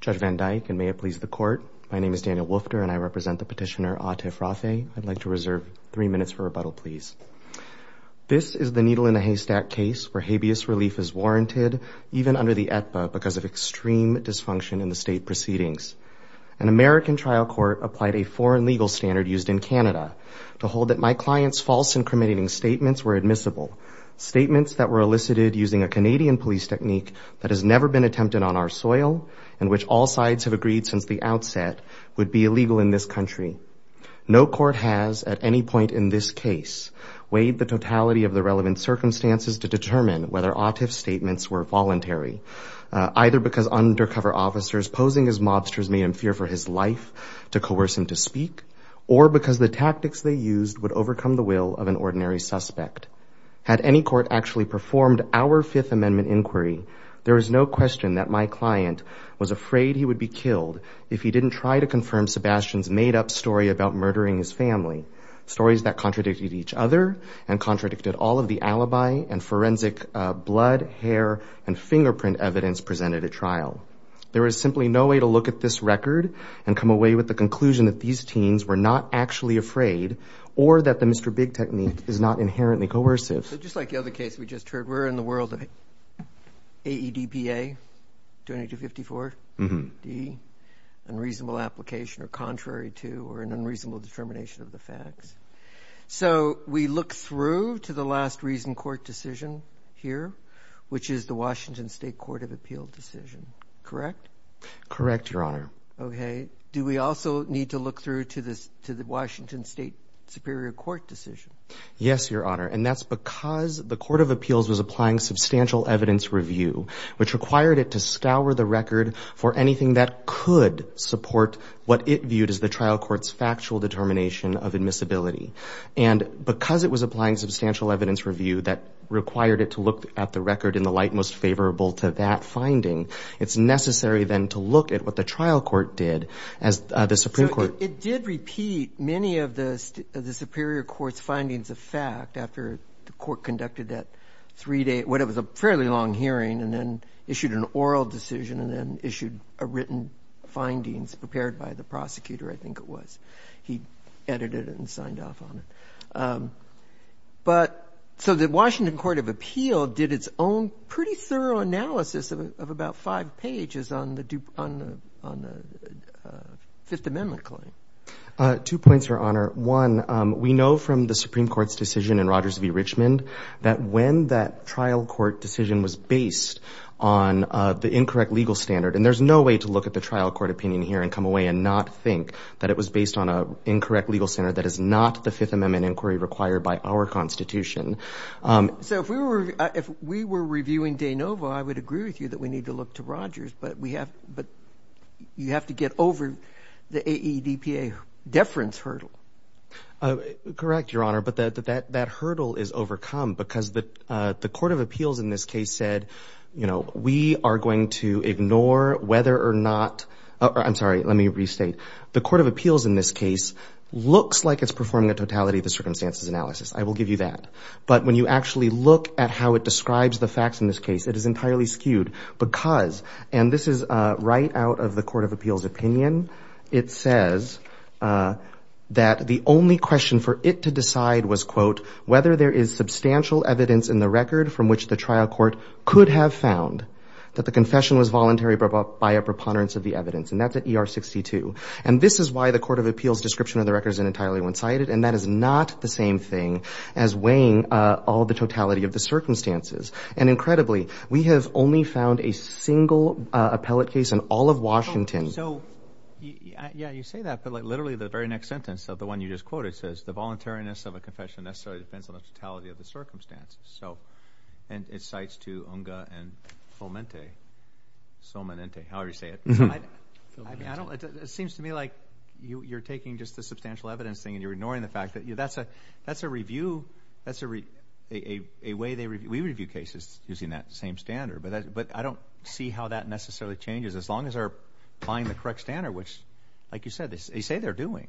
Judge Van Dyke, and may it please the court, my name is Daniel Wolfter and I represent the petitioner, Atif Rafay. I'd like to reserve three minutes for rebuttal, please. This is the needle in a haystack case where habeas relief is warranted even under the AEDPA because of extreme dysfunction in the state proceedings. An American trial court applied a foreign legal standard used in Canada to hold that my client's false and cremating statements were admissible. Statements that were elicited using a Canadian police technique that has never been attempted on our soil and which all sides have agreed since the outset would be illegal in this country. No court has at any point in this case weighed the totality of the relevant circumstances to determine whether Atif's statements were voluntary, either because undercover officers posing as mobsters made him fear for his life to coerce him to speak, or because the tactics they used would overcome the will of an ordinary suspect. Had any court actually performed our Fifth Amendment inquiry, there is no question that my client was afraid he would be killed if he didn't try to confirm Sebastian's made-up story about murdering his family, stories that contradicted each other and contradicted all of the alibi and forensic blood, hair, and fingerprint evidence presented at trial. There is simply no way to look at this record and come away with the conclusion that these big techniques are not inherently coercive. So just like the other case we just heard, we're in the world of AEDPA, 254 D, unreasonable application or contrary to, or an unreasonable determination of the facts. So we look through to the last reasoned court decision here, which is the Washington State Court of Appeal decision, correct? Correct, Your Honor. Okay. Do we also need to look through to the Washington State Superior Court decision? Yes, Your Honor. And that's because the Court of Appeals was applying substantial evidence review, which required it to scour the record for anything that could support what it viewed as the trial court's factual determination of admissibility. And because it was applying substantial evidence review that required it to look at the record in the light most as the Supreme Court. It did repeat many of the Superior Court's findings of fact after the court conducted that three-day, what was a fairly long hearing, and then issued an oral decision and then issued a written findings prepared by the prosecutor, I think it was. He edited it and signed off on it. But so the Washington Court of Appeal did its own pretty thorough analysis of about five pages on the Fifth Amendment claim. Two points, Your Honor. One, we know from the Supreme Court's decision in Rogers v. Richmond that when that trial court decision was based on the incorrect legal standard, and there's no way to look at the trial court opinion here and come away and not think that it was based on an incorrect legal standard that is not the Fifth Amendment inquiry required by our Constitution. So if we were reviewing de novo, I would agree with you that we need to look to Rogers, but we have, but you have to get over the AEDPA deference hurdle. Correct, Your Honor. But that hurdle is overcome because the Court of Appeals in this case said, you know, we are going to ignore whether or not, I'm sorry, let me restate. The Court of Appeals in this case looks like it's performing a totality of the circumstances analysis. I will give you that. But when you actually look at how it describes the facts in this case, it is entirely skewed because, and this is right out of the Court of Appeals opinion, it says that the only question for it to decide was, quote, whether there is substantial evidence in the record from which the trial court could have found that the confession was voluntary by a preponderance of the evidence. And that's at ER 62. And this is why the Court of Appeals description of the record is entirely one-sided, and that is not the same thing as weighing all the totality of the circumstances. And incredibly, we have only found a single appellate case in all of Washington. So, yeah, you say that, but like literally the very next sentence of the one you just quoted says, the voluntariness of a confession necessarily depends on the totality of the circumstances. So, and it cites to Unga and Fomente, Somanente, however you say it. I don't, it seems to me like you're taking just the substantial evidence thing and you're saying, you know, that's a review, that's a way they review, we review cases using that same standard. But I don't see how that necessarily changes as long as they're applying the correct standard, which, like you said, they say they're doing.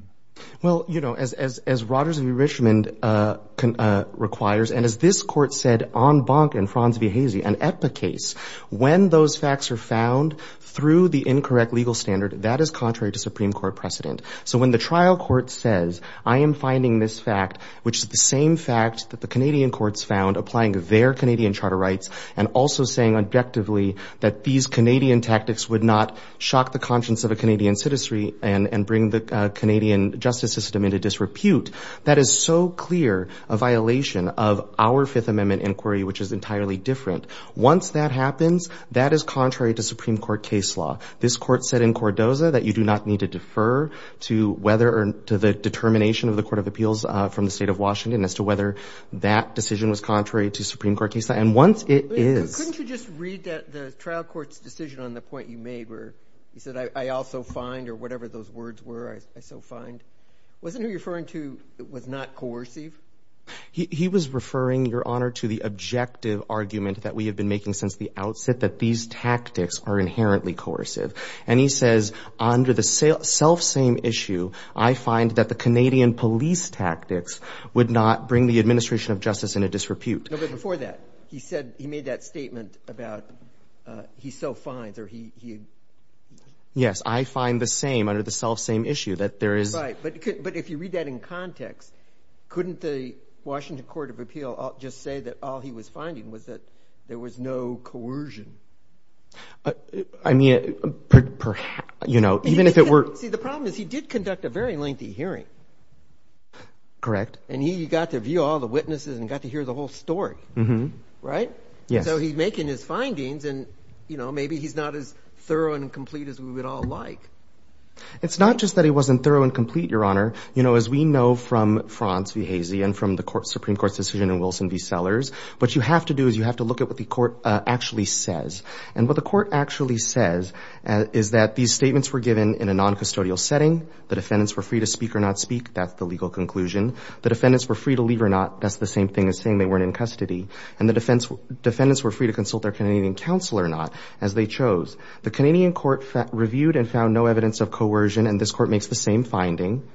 Well, you know, as Rogers v. Richmond requires, and as this Court said on Bonk and Franz Viehese, an EPPA case, when those facts are found through the incorrect legal standard, that is contrary to Supreme Court precedent. So when the trial court says, I am finding this fact, which is the same fact that the Canadian courts found applying their Canadian charter rights and also saying objectively that these Canadian tactics would not shock the conscience of a Canadian citizenry and bring the Canadian justice system into disrepute, that is so clear a violation of our Fifth Amendment inquiry, which is entirely different. Once that happens, that is contrary to Supreme Court case law. This Court said in Cordoza that you do not need to defer to whether or to the determination of the Court of Appeals from the State of Washington as to whether that decision was contrary to Supreme Court case law. And once it is— Couldn't you just read the trial court's decision on the point you made where he said, I also find, or whatever those words were, I so find. Wasn't he referring to it was not coercive? He was referring, Your Honor, to the objective argument that we have been making since the under the self-same issue, I find that the Canadian police tactics would not bring the administration of justice into disrepute. No, but before that, he said he made that statement about he so finds or he— Yes, I find the same under the self-same issue that there is— Right, but if you read that in context, couldn't the Washington Court of Appeal just say that all he was finding was that there was no coercion? I mean, you know, even if it were— See, the problem is he did conduct a very lengthy hearing. Correct. And he got to view all the witnesses and got to hear the whole story. Right? Yes. So he's making his findings and, you know, maybe he's not as thorough and complete as we would all like. It's not just that he wasn't thorough and complete, Your Honor. You know, as we know from Franz V. Hazey and from the Supreme Court's decision in Wilson v. Sellers, what you have to do is you have to look at what the court actually says. And what the court actually says is that these statements were given in a non-custodial setting. The defendants were free to speak or not speak. That's the legal conclusion. The defendants were free to leave or not. That's the same thing as saying they weren't in custody. And the defendants were free to consult their Canadian counsel or not, as they chose. The Canadian court reviewed and found no evidence of coercion, and this court makes the same finding.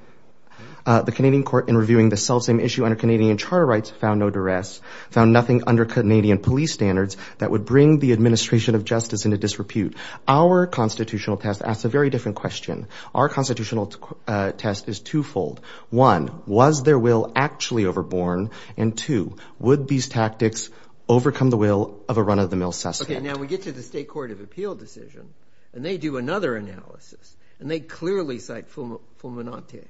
The Canadian court, in reviewing the self-same issue under Canadian charter rights, found no duress, found nothing under Canadian police standards that would bring the administration of justice into disrepute. Our constitutional test asks a very different question. Our constitutional test is twofold. One, was their will actually overborne? And two, would these tactics overcome the will of a run-of-the-mill suspect? Okay, now we get to the State Court of Appeal decision, and they do another analysis, and they clearly cite Fulminante.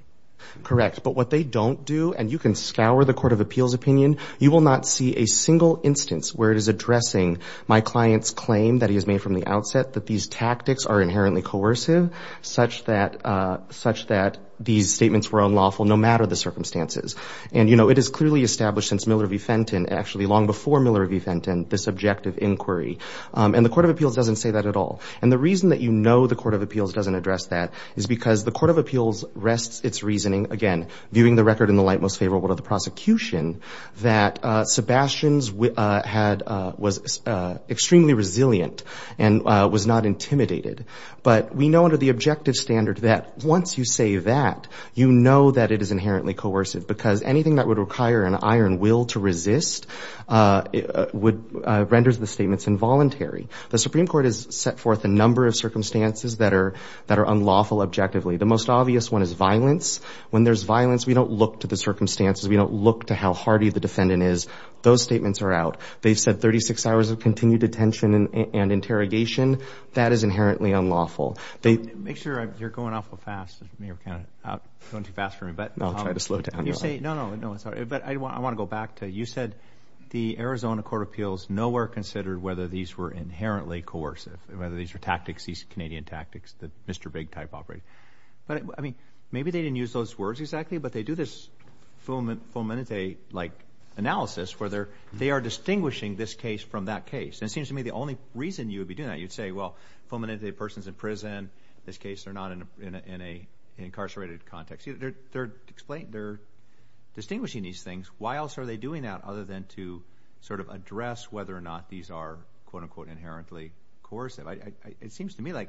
Correct, but what they don't do, and you can scour the Court of Appeal's opinion, you will not see a single instance where it is addressing my client's claim that he has made from the outset that these tactics are inherently coercive, such that these statements were unlawful, no matter the circumstances. And, you know, it is clearly established since Miller v. Fenton, actually long before Miller v. Fenton, this objective inquiry. And the Court of Appeals doesn't say that at all. And the reason that you know the Court of Appeals doesn't address that is because the Court of Appeals rests its reasoning, again, viewing the record in the light most favorable to the prosecution, that Sebastian's was extremely resilient and was not intimidated. But we know under the objective standard that once you say that, you know that it is inherently coercive, because anything that would require an iron will to resist renders the statements involuntary. The Supreme Court has set forth a number of circumstances that are unlawful objectively. The most obvious one is violence. When there's violence, we don't look to the circumstances. We don't look to how hardy the defendant is. Those statements are out. They've said 36 hours of continued detention and interrogation. That is inherently unlawful. They- Make sure you're going awful fast. You're kind of going too fast for me, but- I'll try to slow down. When you say, no, no, no, I'm sorry. But I want to go back to, you said the Arizona Court of Appeals nowhere considered whether these were inherently coercive, whether these were tactics, these Canadian tactics that Mr. Big type operate. But, I mean, maybe they didn't use those words exactly, but they do this Fulminante-like analysis where they are distinguishing this case from that case. And it seems to me the only reason you would be doing that, you'd say, well, Fulminante, the person's in prison. This case, they're not in an incarcerated context. They're explaining, they're distinguishing these things. Why else are they doing that other than to sort of address whether or not these are, quote, unquote, inherently coercive? It seems to me like,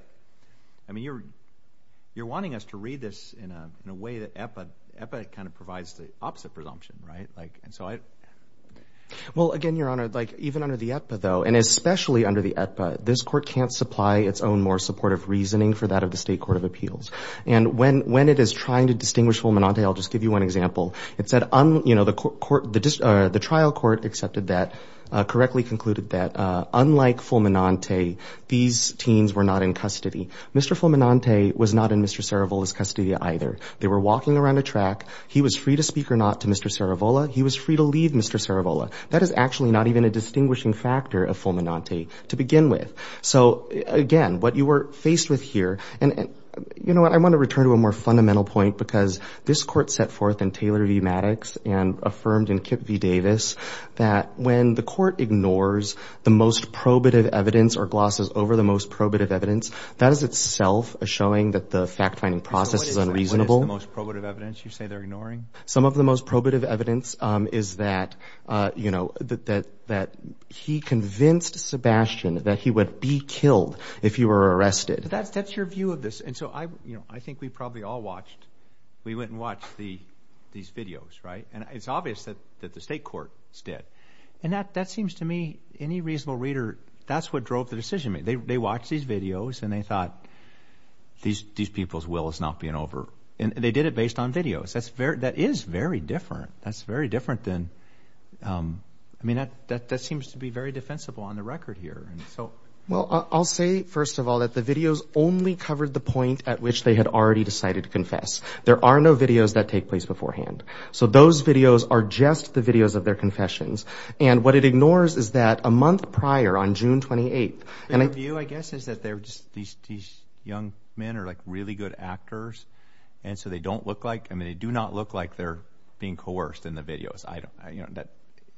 I mean, you're wanting us to read this in a way that EPA kind of provides the opposite presumption, right? Like, and so I- Well, again, Your Honor, like even under the EPA, though, and especially under the EPA, this court can't supply its own more supportive reasoning for that of the State Court of Appeals. And when it is trying to distinguish Fulminante, I'll just give you one example. It said, you know, the trial court accepted that, correctly concluded that, unlike Fulminante, these teens were not in custody. Mr. Fulminante was not in Mr. Cerevola's custody either. They were walking around a track. He was free to speak or not to Mr. Cerevola. He was free to leave Mr. Cerevola. That is actually not even a distinguishing factor of Fulminante to begin with. So, again, what you were faced with here, and you know what? I want to return to a more fundamental point because this court set forth in Taylor v. Maddox and affirmed in Kip v. Davis that when the court ignores the most probative evidence or glosses over the most probative evidence, that is itself a showing that the fact-finding process is unreasonable. What is the most probative evidence you say they're ignoring? Some of the most probative evidence is that, you know, that he convinced Sebastian that he would be killed if he were arrested. That's your view of this. And so, you know, I think we probably all watched, we went and watched these videos, right? And it's obvious that the state courts did. And that seems to me, any reasonable reader, that's what drove the decision. They watched these videos and they thought these people's will is not being over. And they did it based on videos. That is very different. That's very different than, I mean, that seems to be very defensible on the record here. Well, I'll say, first of all, that the videos only covered the point at which they had already decided to confess. There are no videos that take place beforehand. So those videos are just the videos of their confessions. And what it ignores is that a month prior, on June 28th, and I view, I guess, is that they're just these young men are like really good actors. And so they don't look like, I mean, they do not look like they're being coerced in the videos. I don't, you know, that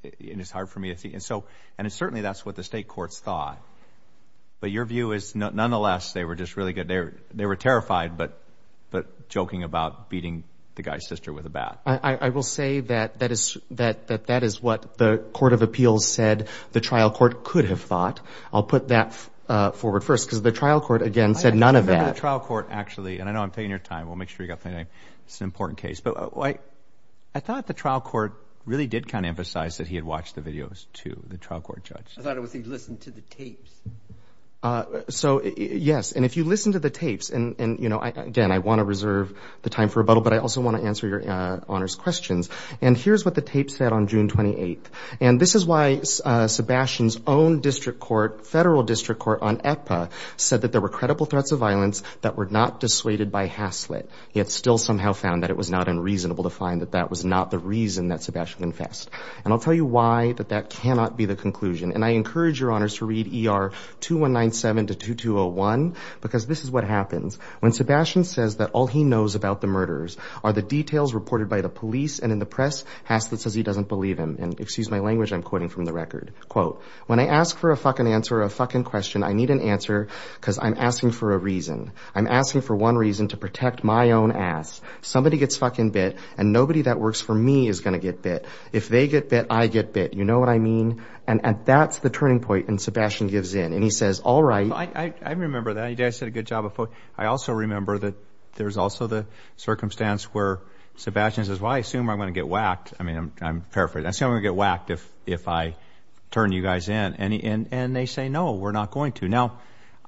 it is hard for me to see. And so, and it's certainly that's what the state courts thought. But your view is nonetheless, they were just really good. They were terrified, but joking about beating the guy's sister with a bat. I will say that that is what the Court of Appeals said the trial court could have thought. I'll put that forward first, because the trial court, again, said none of that. I remember the trial court actually, and I know I'm taking your time. We'll make sure you got my name. It's an important case. But I thought the trial court really did kind of emphasize that he had watched the videos to the trial court judge. I thought it was he listened to the tapes. So, yes. And if you listen to the tapes and, you know, again, I want to reserve the time for rebuttal, but I also want to answer your honors questions. And here's what the tapes said on June 28th. And this is why Sebastian's own district court, federal district court on EPA, said that there were credible threats of violence that were not dissuaded by Haslett. He had still somehow found that it was not unreasonable to find that that was not the reason that Sebastian confessed. And I'll tell you why that that cannot be the conclusion. And I encourage your honors to read ER 2197 to 2201, because this is what happens. When Sebastian says that all he knows about the murderers are the details reported by the police and in the press, Haslett says he doesn't believe him. And excuse my language, I'm quoting from the record. Quote, when I ask for a fucking answer or a fucking question, I need an answer because I'm asking for a reason. I'm asking for one reason to protect my own ass. Somebody gets fucking bit and nobody that works for me is going to get bit. If they get bit, I get bit. You know what I mean? And that's the turning point. And Sebastian gives in. And he says, all right. I remember that. I said a good job. But I also remember that there's also the circumstance where Sebastian says, well, I assume I'm going to get whacked. I mean, I'm fair for that's going to get whacked if if I turn you guys in. And they say, no, we're not going to. Now,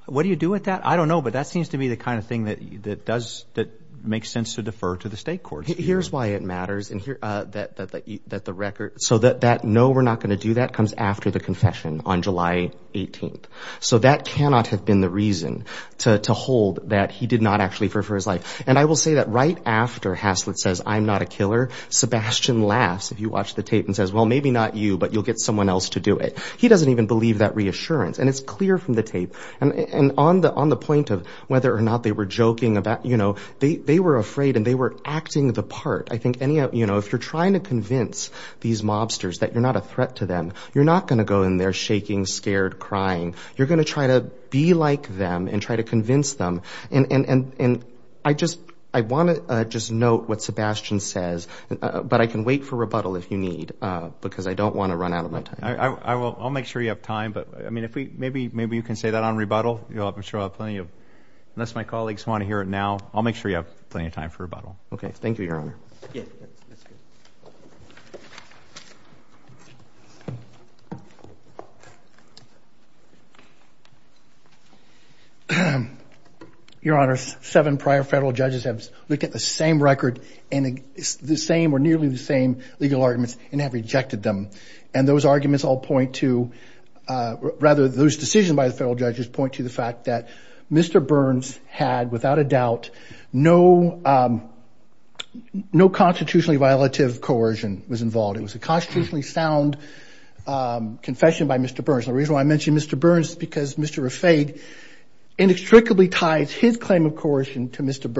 what do you do with that? I don't know, but that seems to be the kind of thing that that does that makes sense to defer to the state court. Here's why it matters. And here that that the that the record so that that no, we're not going to do that comes after the confession on July 18th. So that cannot have been the reason to hold that he did not actually prefer his life. And I will say that right after Haslett says, I'm not a killer. Sebastian laughs if you watch the tape and says, well, maybe not you, but you'll get someone else to do it. He doesn't even believe that reassurance. And it's clear from the tape. And on the on the point of whether or not they were joking about, you know, they were afraid and they were acting the part. I think any of you know, if you're trying to convince these mobsters that you're not a threat to them, you're not going to go in there shaking, scared, crying. You're going to try to be like them and try to convince them. And I just I want to just note what Sebastian says. But I can wait for rebuttal if you need, because I don't want to run out of my time. I will. I'll make sure you have time. But I mean, if we maybe maybe you can say that on rebuttal, you'll have to show up plenty of unless my colleagues want to hear it now. I'll make sure you have plenty of time for rebuttal. OK, thank you, Your Honor. Your Honor, seven prior federal judges have looked at the same record and the same or nearly the same legal arguments and have rejected them. And those arguments all point to rather those decisions by the federal judges point to the fact that Mr. Burns had without a doubt no no constitutionally violative coercion was involved. It was a constitutionally sound confession by Mr. Burns. The reason why I mentioned Mr. Burns, because Mr. Raffaele inextricably ties his claim of coercion to Mr.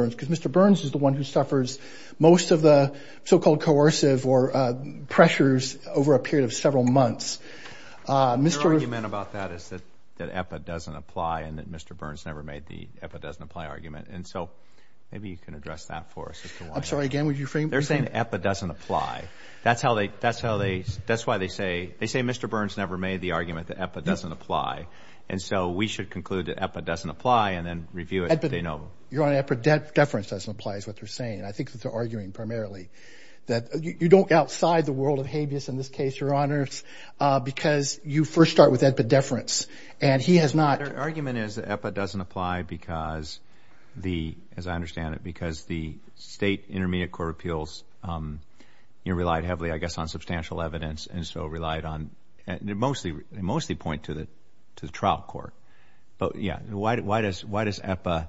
Burns is the one who suffers most of the so-called coercive or pressures over a period of several months. Mr. Argument about that is that that doesn't apply and that Mr. Burns never made the doesn't apply argument. And so maybe you can address that for us. I'm sorry. Again, would you think they're saying it doesn't apply? That's how they that's how they that's why they say they say Mr. Burns never made the argument that doesn't apply. And so we should conclude that doesn't apply and then review it. Your Honor, Epa deference doesn't apply is what they're saying. And I think that they're arguing primarily that you don't outside the world of habeas in this case, Your Honor, because you first start with Epa deference and he has not. Their argument is that Epa doesn't apply because the as I understand it, because the state intermediate court appeals relied heavily, I guess, on substantial evidence and so relied on mostly mostly point to the to the trial court. But yeah, why does why does Epa,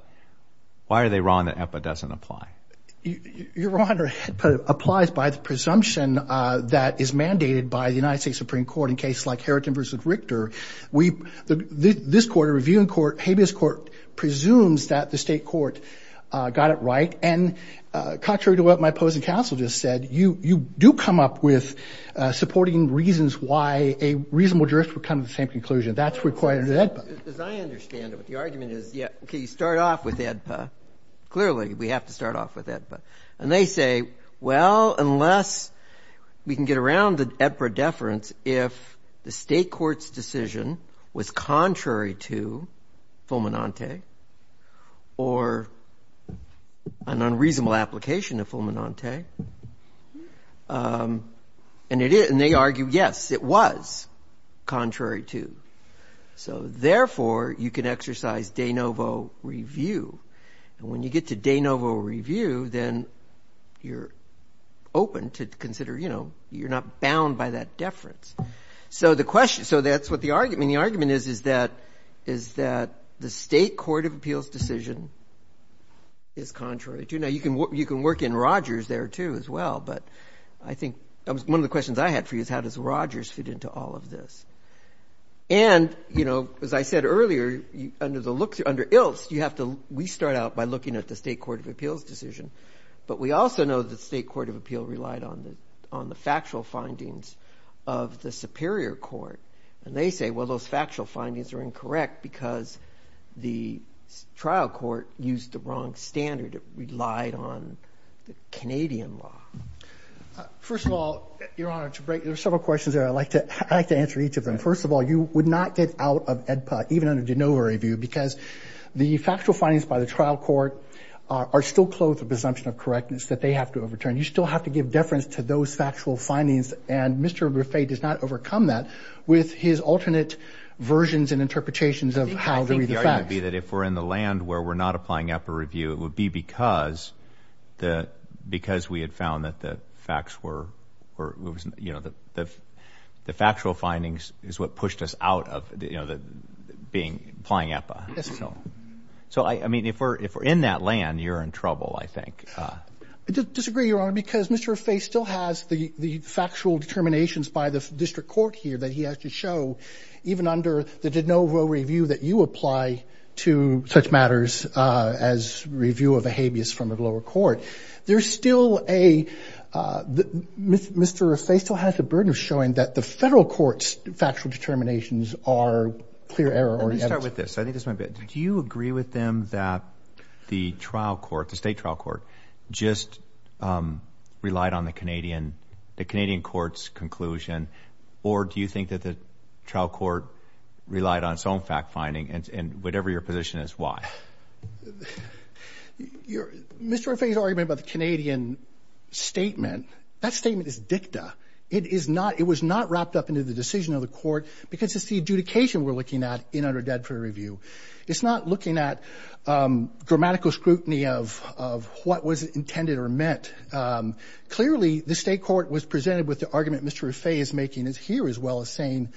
why are they wrong that Epa doesn't apply? Your Honor, it applies by the presumption that is mandated by the United States Supreme Court in cases like Harriton versus Richter. We this court, a reviewing court, habeas court presumes that the state court got it right. And contrary to what my opposing counsel just said, you do come up with supporting reasons why a reasonable jurist would come to the same conclusion. That's required as I understand it. But the argument is, yeah, OK, you start off with Epa. Clearly, we have to start off with Epa. And they say, well, unless we can get around the Epa deference, if the state court's decision was contrary to Fulminante or an unreasonable application of Fulminante. And they argue, yes, it was contrary to. So therefore, you can exercise de novo review. And when you get to de novo review, then you're open to consider, you know, you're not bound by that deference. So the question so that's what the argument the argument is, is that is that the state court of appeals decision is contrary to. Now, you can you can work in Rogers there, too, as well. But I think one of the questions I had for you is how does Rogers fit into all of this? And, you know, as I said earlier, under the looks under Ilst, you have to we start out by looking at the state court of appeals decision. But we also know the state court of appeal relied on the on the factual findings of the Superior Court. And they say, well, those factual findings are incorrect because the trial court used the wrong standard. It relied on the Canadian law. First of all, Your Honor, to break there are several questions that I'd like to I'd like to answer each of them. First of all, you would not get out of EDPA even under de novo review because the factual findings by the trial court are still close to presumption of correctness that they have to overturn. You still have to give deference to those factual findings. And Mr. Griffay does not overcome that with his alternate versions and interpretations of how to read the facts. The argument would be that if we're in the land where we're not applying EDPA review, it would be because the because we had found that the facts were, you know, the the factual findings is what pushed us out of, you know, the being applying EDPA. So, I mean, if we're if we're in that land, you're in trouble, I think. I disagree, Your Honor, because Mr. Griffay still has the burden of showing that the federal court's factual determinations are clear error. Let me start with this. I think this might be it. Do you agree with them that the trial court, the state trial court, just relied on the Canadian, the Canadian court's conclusion? Or do you think that the trial court relied on its own fact finding and whatever your position is, why? Mr. Griffay's argument about the Canadian statement, that statement is dicta. It is not, it was not wrapped up into the decision of the court because it's the adjudication we're looking at in under EDPA review. It's not looking at grammatical scrutiny of what was intended or meant. Clearly, the state court was presented with the argument Mr. Griffay is making is here as well as saying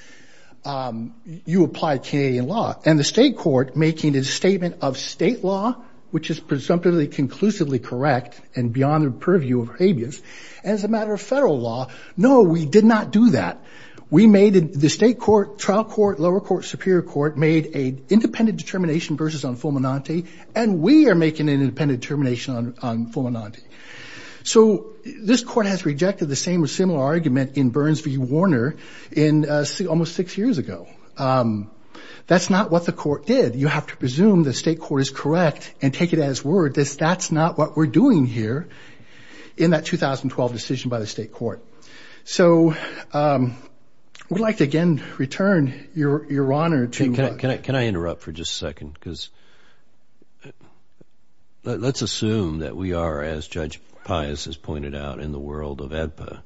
you apply Canadian law. And the state court making a statement of state law, which is presumptively conclusively correct and beyond the purview of habeas, as a matter of federal law, no, we did not do that. We made the state court, trial court, lower court, superior court made a independent determination versus on Fulminante. And we are making an independent determination on Fulminante. So this court has rejected the same or similar argument in Burns v. Warner in almost six years ago. That's not what the court did. You have to presume the state court is correct and take it as word that that's not what we're doing here in that 2012 decision by the state court. So we'd like to again return your your honor to. Can I interrupt for just a second? Because let's assume that we are, as Judge Pius has pointed out, in the world of EDPA.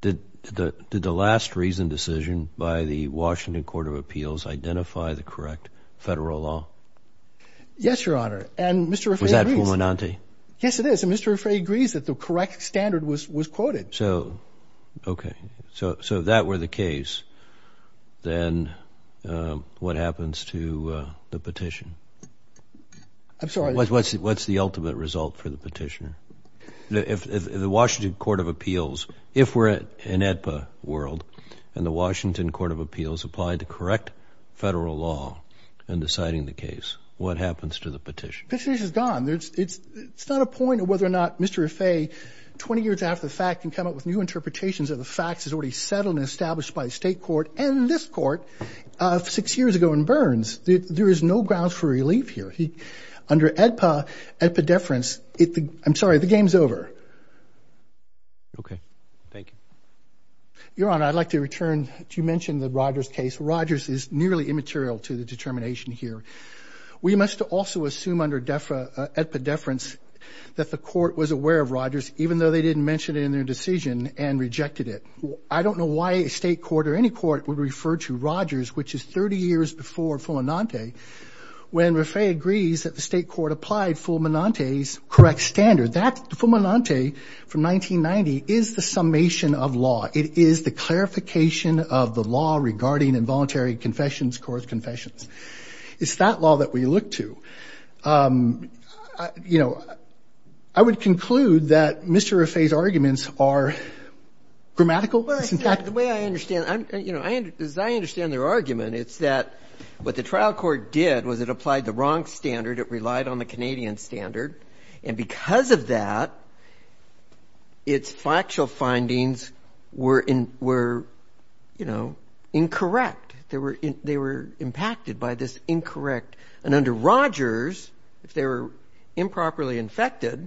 Did the did the last reason decision by the Washington Court of Appeals identify the correct federal law? Yes, your honor. And Mr. Griffay agrees. Was that Fulminante? Yes, it is. And Mr. Griffay agrees that the correct standard was was quoted. So, OK, so so that were the case, then what happens to the petition? I'm sorry. What's what's what's the ultimate result for the petitioner? If the Washington Court of Appeals, if we're in EDPA world and the Washington Court of Appeals applied to correct federal law and deciding the case, what happens to the petition? Petition is gone. It's it's it's not a point of whether or not Mr. Griffay, 20 years after the fact, can come up with new interpretations of the facts is already settled and established by the state court and this court of six years ago in Burns. There is no grounds for relief here. He under EDPA, EDPA deference. I'm sorry. The game's over. OK, thank you, your honor. I'd like to return to you mentioned the Rogers case. Rogers is nearly immaterial to the determination here. We must also assume under EDPA deference that the court was aware of Rogers, even though they didn't mention it in their decision and rejected it. I don't know why a state court or any court would refer to Rogers, which is 30 years before Fulminante, when Griffay agrees that the state court applied Fulminante's correct standard. That Fulminante from 1990 is the summation of law. It is the clarification of the law regarding involuntary confessions, court confessions. It's that law that we look to. You know, I would conclude that Mr. Griffay's arguments are grammatical. The way I understand, you know, as I understand their argument, it's that what the trial court did was it applied the wrong standard. It relied on the Canadian standard. And because of that. Its factual findings were in were, you know, incorrect. They were they were impacted by this incorrect and under Rogers, if they were improperly infected.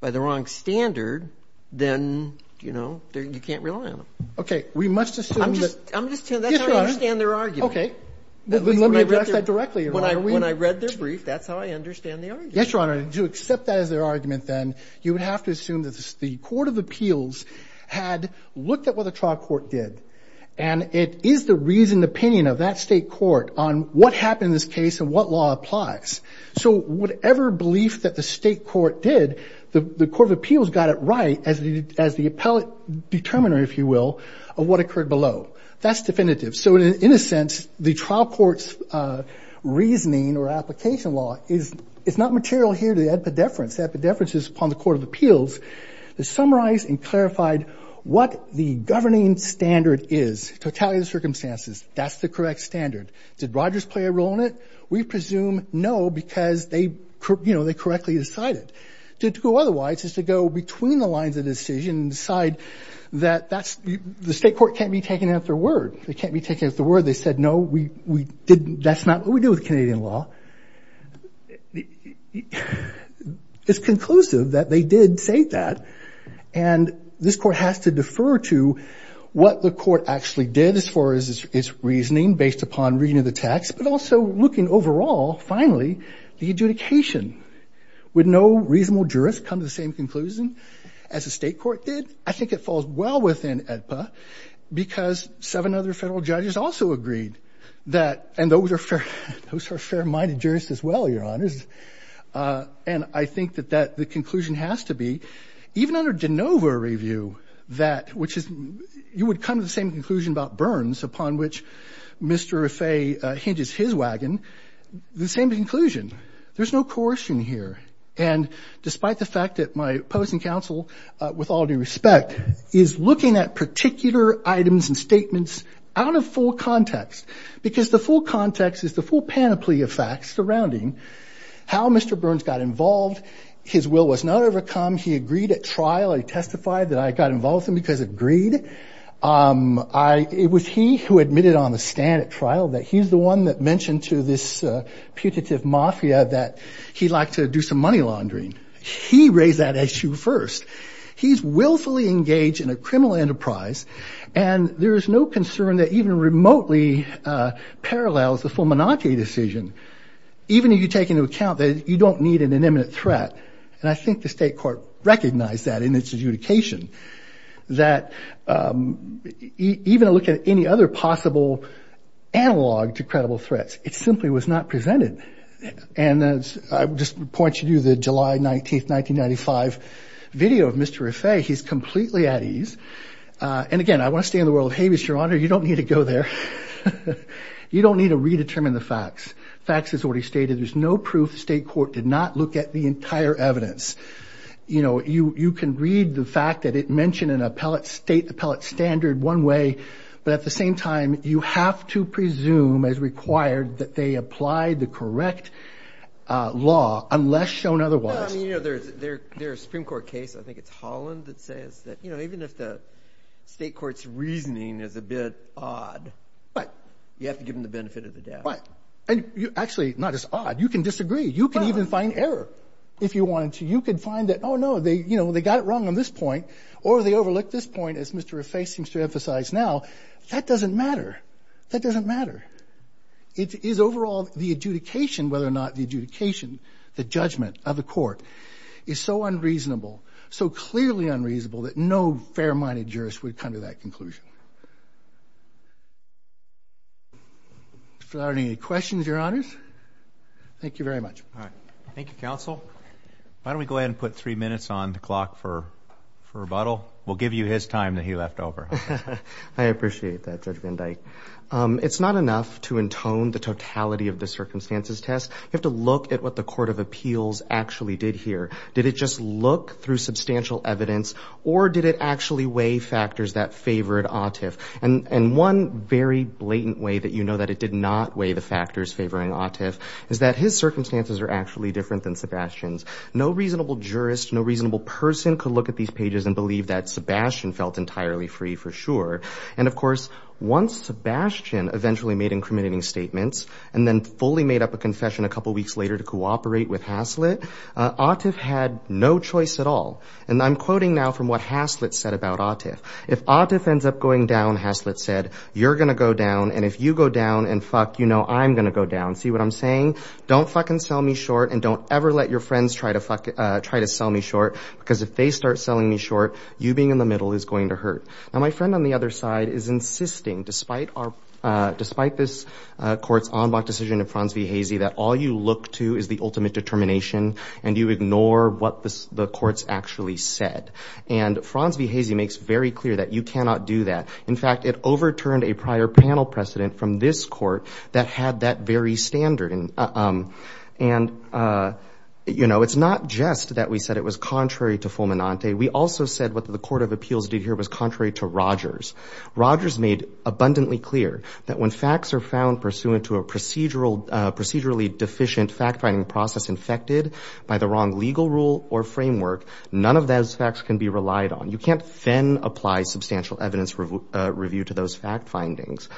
By the wrong standard, then, you know, you can't rely on them. OK, we must assume that I'm just I'm just trying to understand their argument. OK, let me address that directly when I when I read their brief. That's how I understand. Yes, Your Honor, to accept that as their argument, then you would have to assume that the court of appeals had looked at what the trial court did. And it is the reason, the opinion of that state court on what happened in this case and what law applies. So whatever belief that the state court did, the court of appeals got it right as the as the appellate determiner, if you will, of what occurred below. That's definitive. So in a sense, the trial court's reasoning or application law is it's not material here. The difference is upon the court of appeals to summarize and clarified what the governing standard is to tally the circumstances. That's the correct standard. Did Rogers play a role in it? We presume no, because they, you know, they correctly decided to do otherwise is to go between the lines of decision and decide that that's the state court can't be taken at their word. They can't be taken at the word. They said, no, we we didn't. That's not what we do with Canadian law. It's conclusive that they did say that. And this court has to defer to what the court actually did as far as its reasoning based upon reading the text, but also looking overall. Finally, the adjudication would no reasonable jurist come to the same conclusion as a state court did. I think it falls well within EDPA because seven other federal judges also agreed that. And those are fair, fair minded jurists as well. You're honest. And I think that that the conclusion has to be even under DeNova review, that which is you would come to the same conclusion about burns upon which Mr. If a hinges his wagon, the same conclusion, there's no coercion here. And despite the fact that my opposing counsel with all due respect is looking at particular items and statements out of full context, because the full context is the full panoply of facts surrounding how Mr. Burns got involved. His will was not overcome. He agreed at trial. I testified that I got involved in because of greed. I it was he who admitted on the stand at trial that he's the one that mentioned to this putative mafia that he'd like to do some money laundering. He raised that issue first. He's willfully engaged in a criminal enterprise. And there is no concern that even remotely parallels the full monarchy decision, even if you take into account that you don't need an imminent threat. And I think the state court recognized that in its adjudication that even a look at any other possible analog to credible threats, it simply was not presented. And I just point you to the July 19th, 1995 video of Mr. Burns, who is clearly at ease and again, I want to stay in the world of Havis, your honor, you don't need to go there. You don't need to redetermine the facts. Facts is already stated. There's no proof. The state court did not look at the entire evidence. You know, you can read the fact that it mentioned in appellate state appellate standard one way. But at the same time, you have to presume as required that they applied the correct law unless shown otherwise. You know, there's there's Supreme Court case. I think it's Holland that says that, you know, even if the state court's reasoning is a bit odd, but you have to give them the benefit of the doubt. And you actually not as odd. You can disagree. You can even find error if you wanted to. You can find that. Oh, no. They you know, they got it wrong on this point or they overlooked this point. As Mr. Reface seems to emphasize now, that doesn't matter. That doesn't matter. It is overall the adjudication, whether or not the adjudication, the judgment of the court is so unreasonable. So clearly unreasonable that no fair minded jurist would come to that conclusion. So are there any questions, Your Honors? Thank you very much. Thank you, counsel. Why don't we go ahead and put three minutes on the clock for rebuttal? We'll give you his time that he left over. I appreciate that, Judge Van Dyke. It's not enough to intone the totality of the circumstances test. You have to look at what the court of appeals actually did here. Did it just look through substantial evidence or did it actually weigh factors that favored Atif? And one very blatant way that you know that it did not weigh the factors favoring Atif is that his circumstances are actually different than Sebastian's. No reasonable jurist, no reasonable person could look at these pages and believe that Sebastian felt entirely free for sure. And of course, once Sebastian eventually made incriminating statements and then fully made up a confession a couple of weeks later to cooperate with Haslett, Atif had no choice at all. And I'm quoting now from what Haslett said about Atif. If Atif ends up going down, Haslett said, you're going to go down. And if you go down and fuck, you know I'm going to go down. See what I'm saying? Don't fucking sell me short and don't ever let your friends try to sell me short because if they start selling me short, you being in the middle is going to hurt. Now, my friend on the other side is insisting, despite this court's en bloc decision of Frans V. Hazy, that all you look to is the ultimate determination and you ignore what the court's actually said. And Frans V. Hazy makes very clear that you cannot do that. In fact, it overturned a prior panel precedent from this court that had that very standard. And, you know, it's not just that we said it was contrary to fulminante. We also said what the Court of Appeals did here was contrary to Rogers. Rogers made abundantly clear that when facts are found pursuant to a procedurally deficient fact-finding process infected by the wrong legal rule or framework, none of those facts can be relied on. You can't then apply substantial evidence review to those fact findings.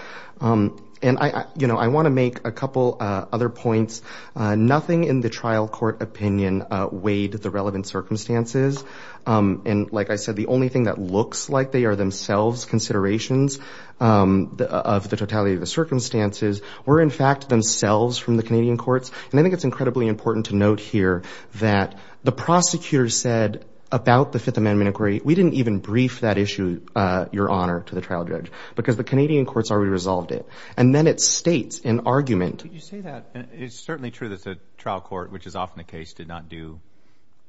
And, you know, I want to make a couple other points. Nothing in the trial court opinion weighed the relevant circumstances. And like I said, the only thing that looks like they are themselves considerations of the totality of the circumstances were, in fact, themselves from the Canadian courts. And I think it's incredibly important to note here that the prosecutor said about the Fifth Amendment inquiry, we didn't even brief that issue, Your Honor, to the trial judge because the Canadian courts already resolved it. And then it states in argument. You say that it's certainly true that the trial court, which is often the case, did not do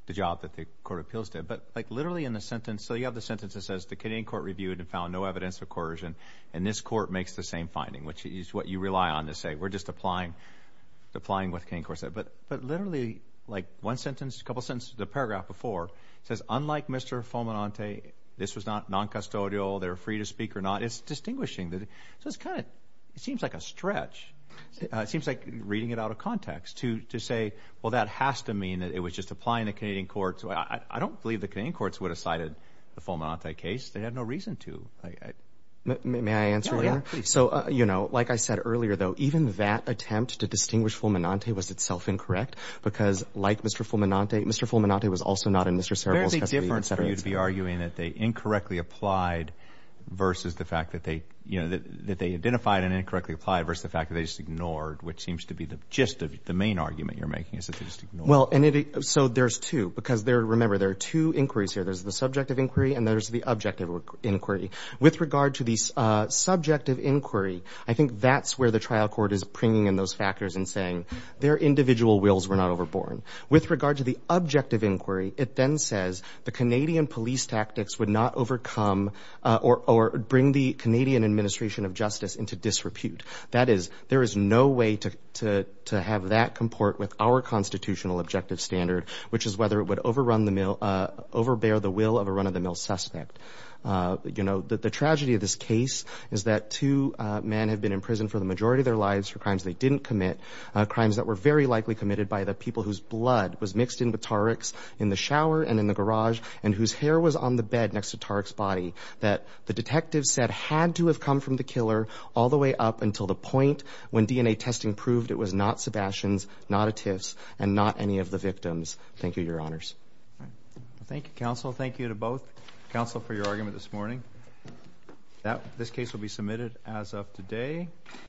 the job that the Court of Appeals did. But like literally in the sentence. So you have the sentence that says the Canadian court reviewed and found no evidence of coercion. And this court makes the same finding, which is what you rely on to say. We're just applying, applying what the Canadian court said. But but literally like one sentence, a couple sentences, a paragraph before says, unlike Mr. Fulminante, this was not noncustodial. They're free to speak or not. It's distinguishing. So it's kind of it seems like a stretch. It seems like reading it out of context to to say, well, that has to mean that it was just applying the Canadian courts. I don't believe the Canadian courts would have cited the Fulminante case. They had no reason to. May I answer? So, you know, like I said earlier, though, even that attempt to distinguish Fulminante was itself incorrect because like Mr. Fulminante, Mr. Fulminante was also not in Mr. There is a difference for you to be arguing that they incorrectly applied versus the fact that they, you know, that they identified an incorrectly applied versus the fact that they just ignored, which seems to be the gist of the main argument you're making is that they just ignored. Well, and so there's two because there remember there are two inquiries here. There's the subjective inquiry and there's the objective inquiry with regard to the subjective inquiry. I think that's where the trial court is bringing in those factors and saying their individual wills were not overborne. With regard to the objective inquiry, it then says the Canadian police tactics would not overcome or bring the Canadian administration of justice into disrepute. That is, there is no way to to to have that comport with our constitutional objective standard, which is whether it would overrun the mill, overbear the will of a run of the mill suspect. You know, the tragedy of this case is that two men have been in prison for the majority of their lives for crimes they didn't commit, crimes that were very likely committed by the people whose blood was mixed in with Tariq's in the shower and in the garage and whose hair was on the bed next to Tariq's body that the detectives said had to have come from the killer all the way up until the point when DNA testing proved it was not Sebastian's, not a Tiff's and not any of the victims. Thank you, Your Honours. Thank you, counsel. Thank you to both counsel for your argument this morning. That this case will be submitted as of today.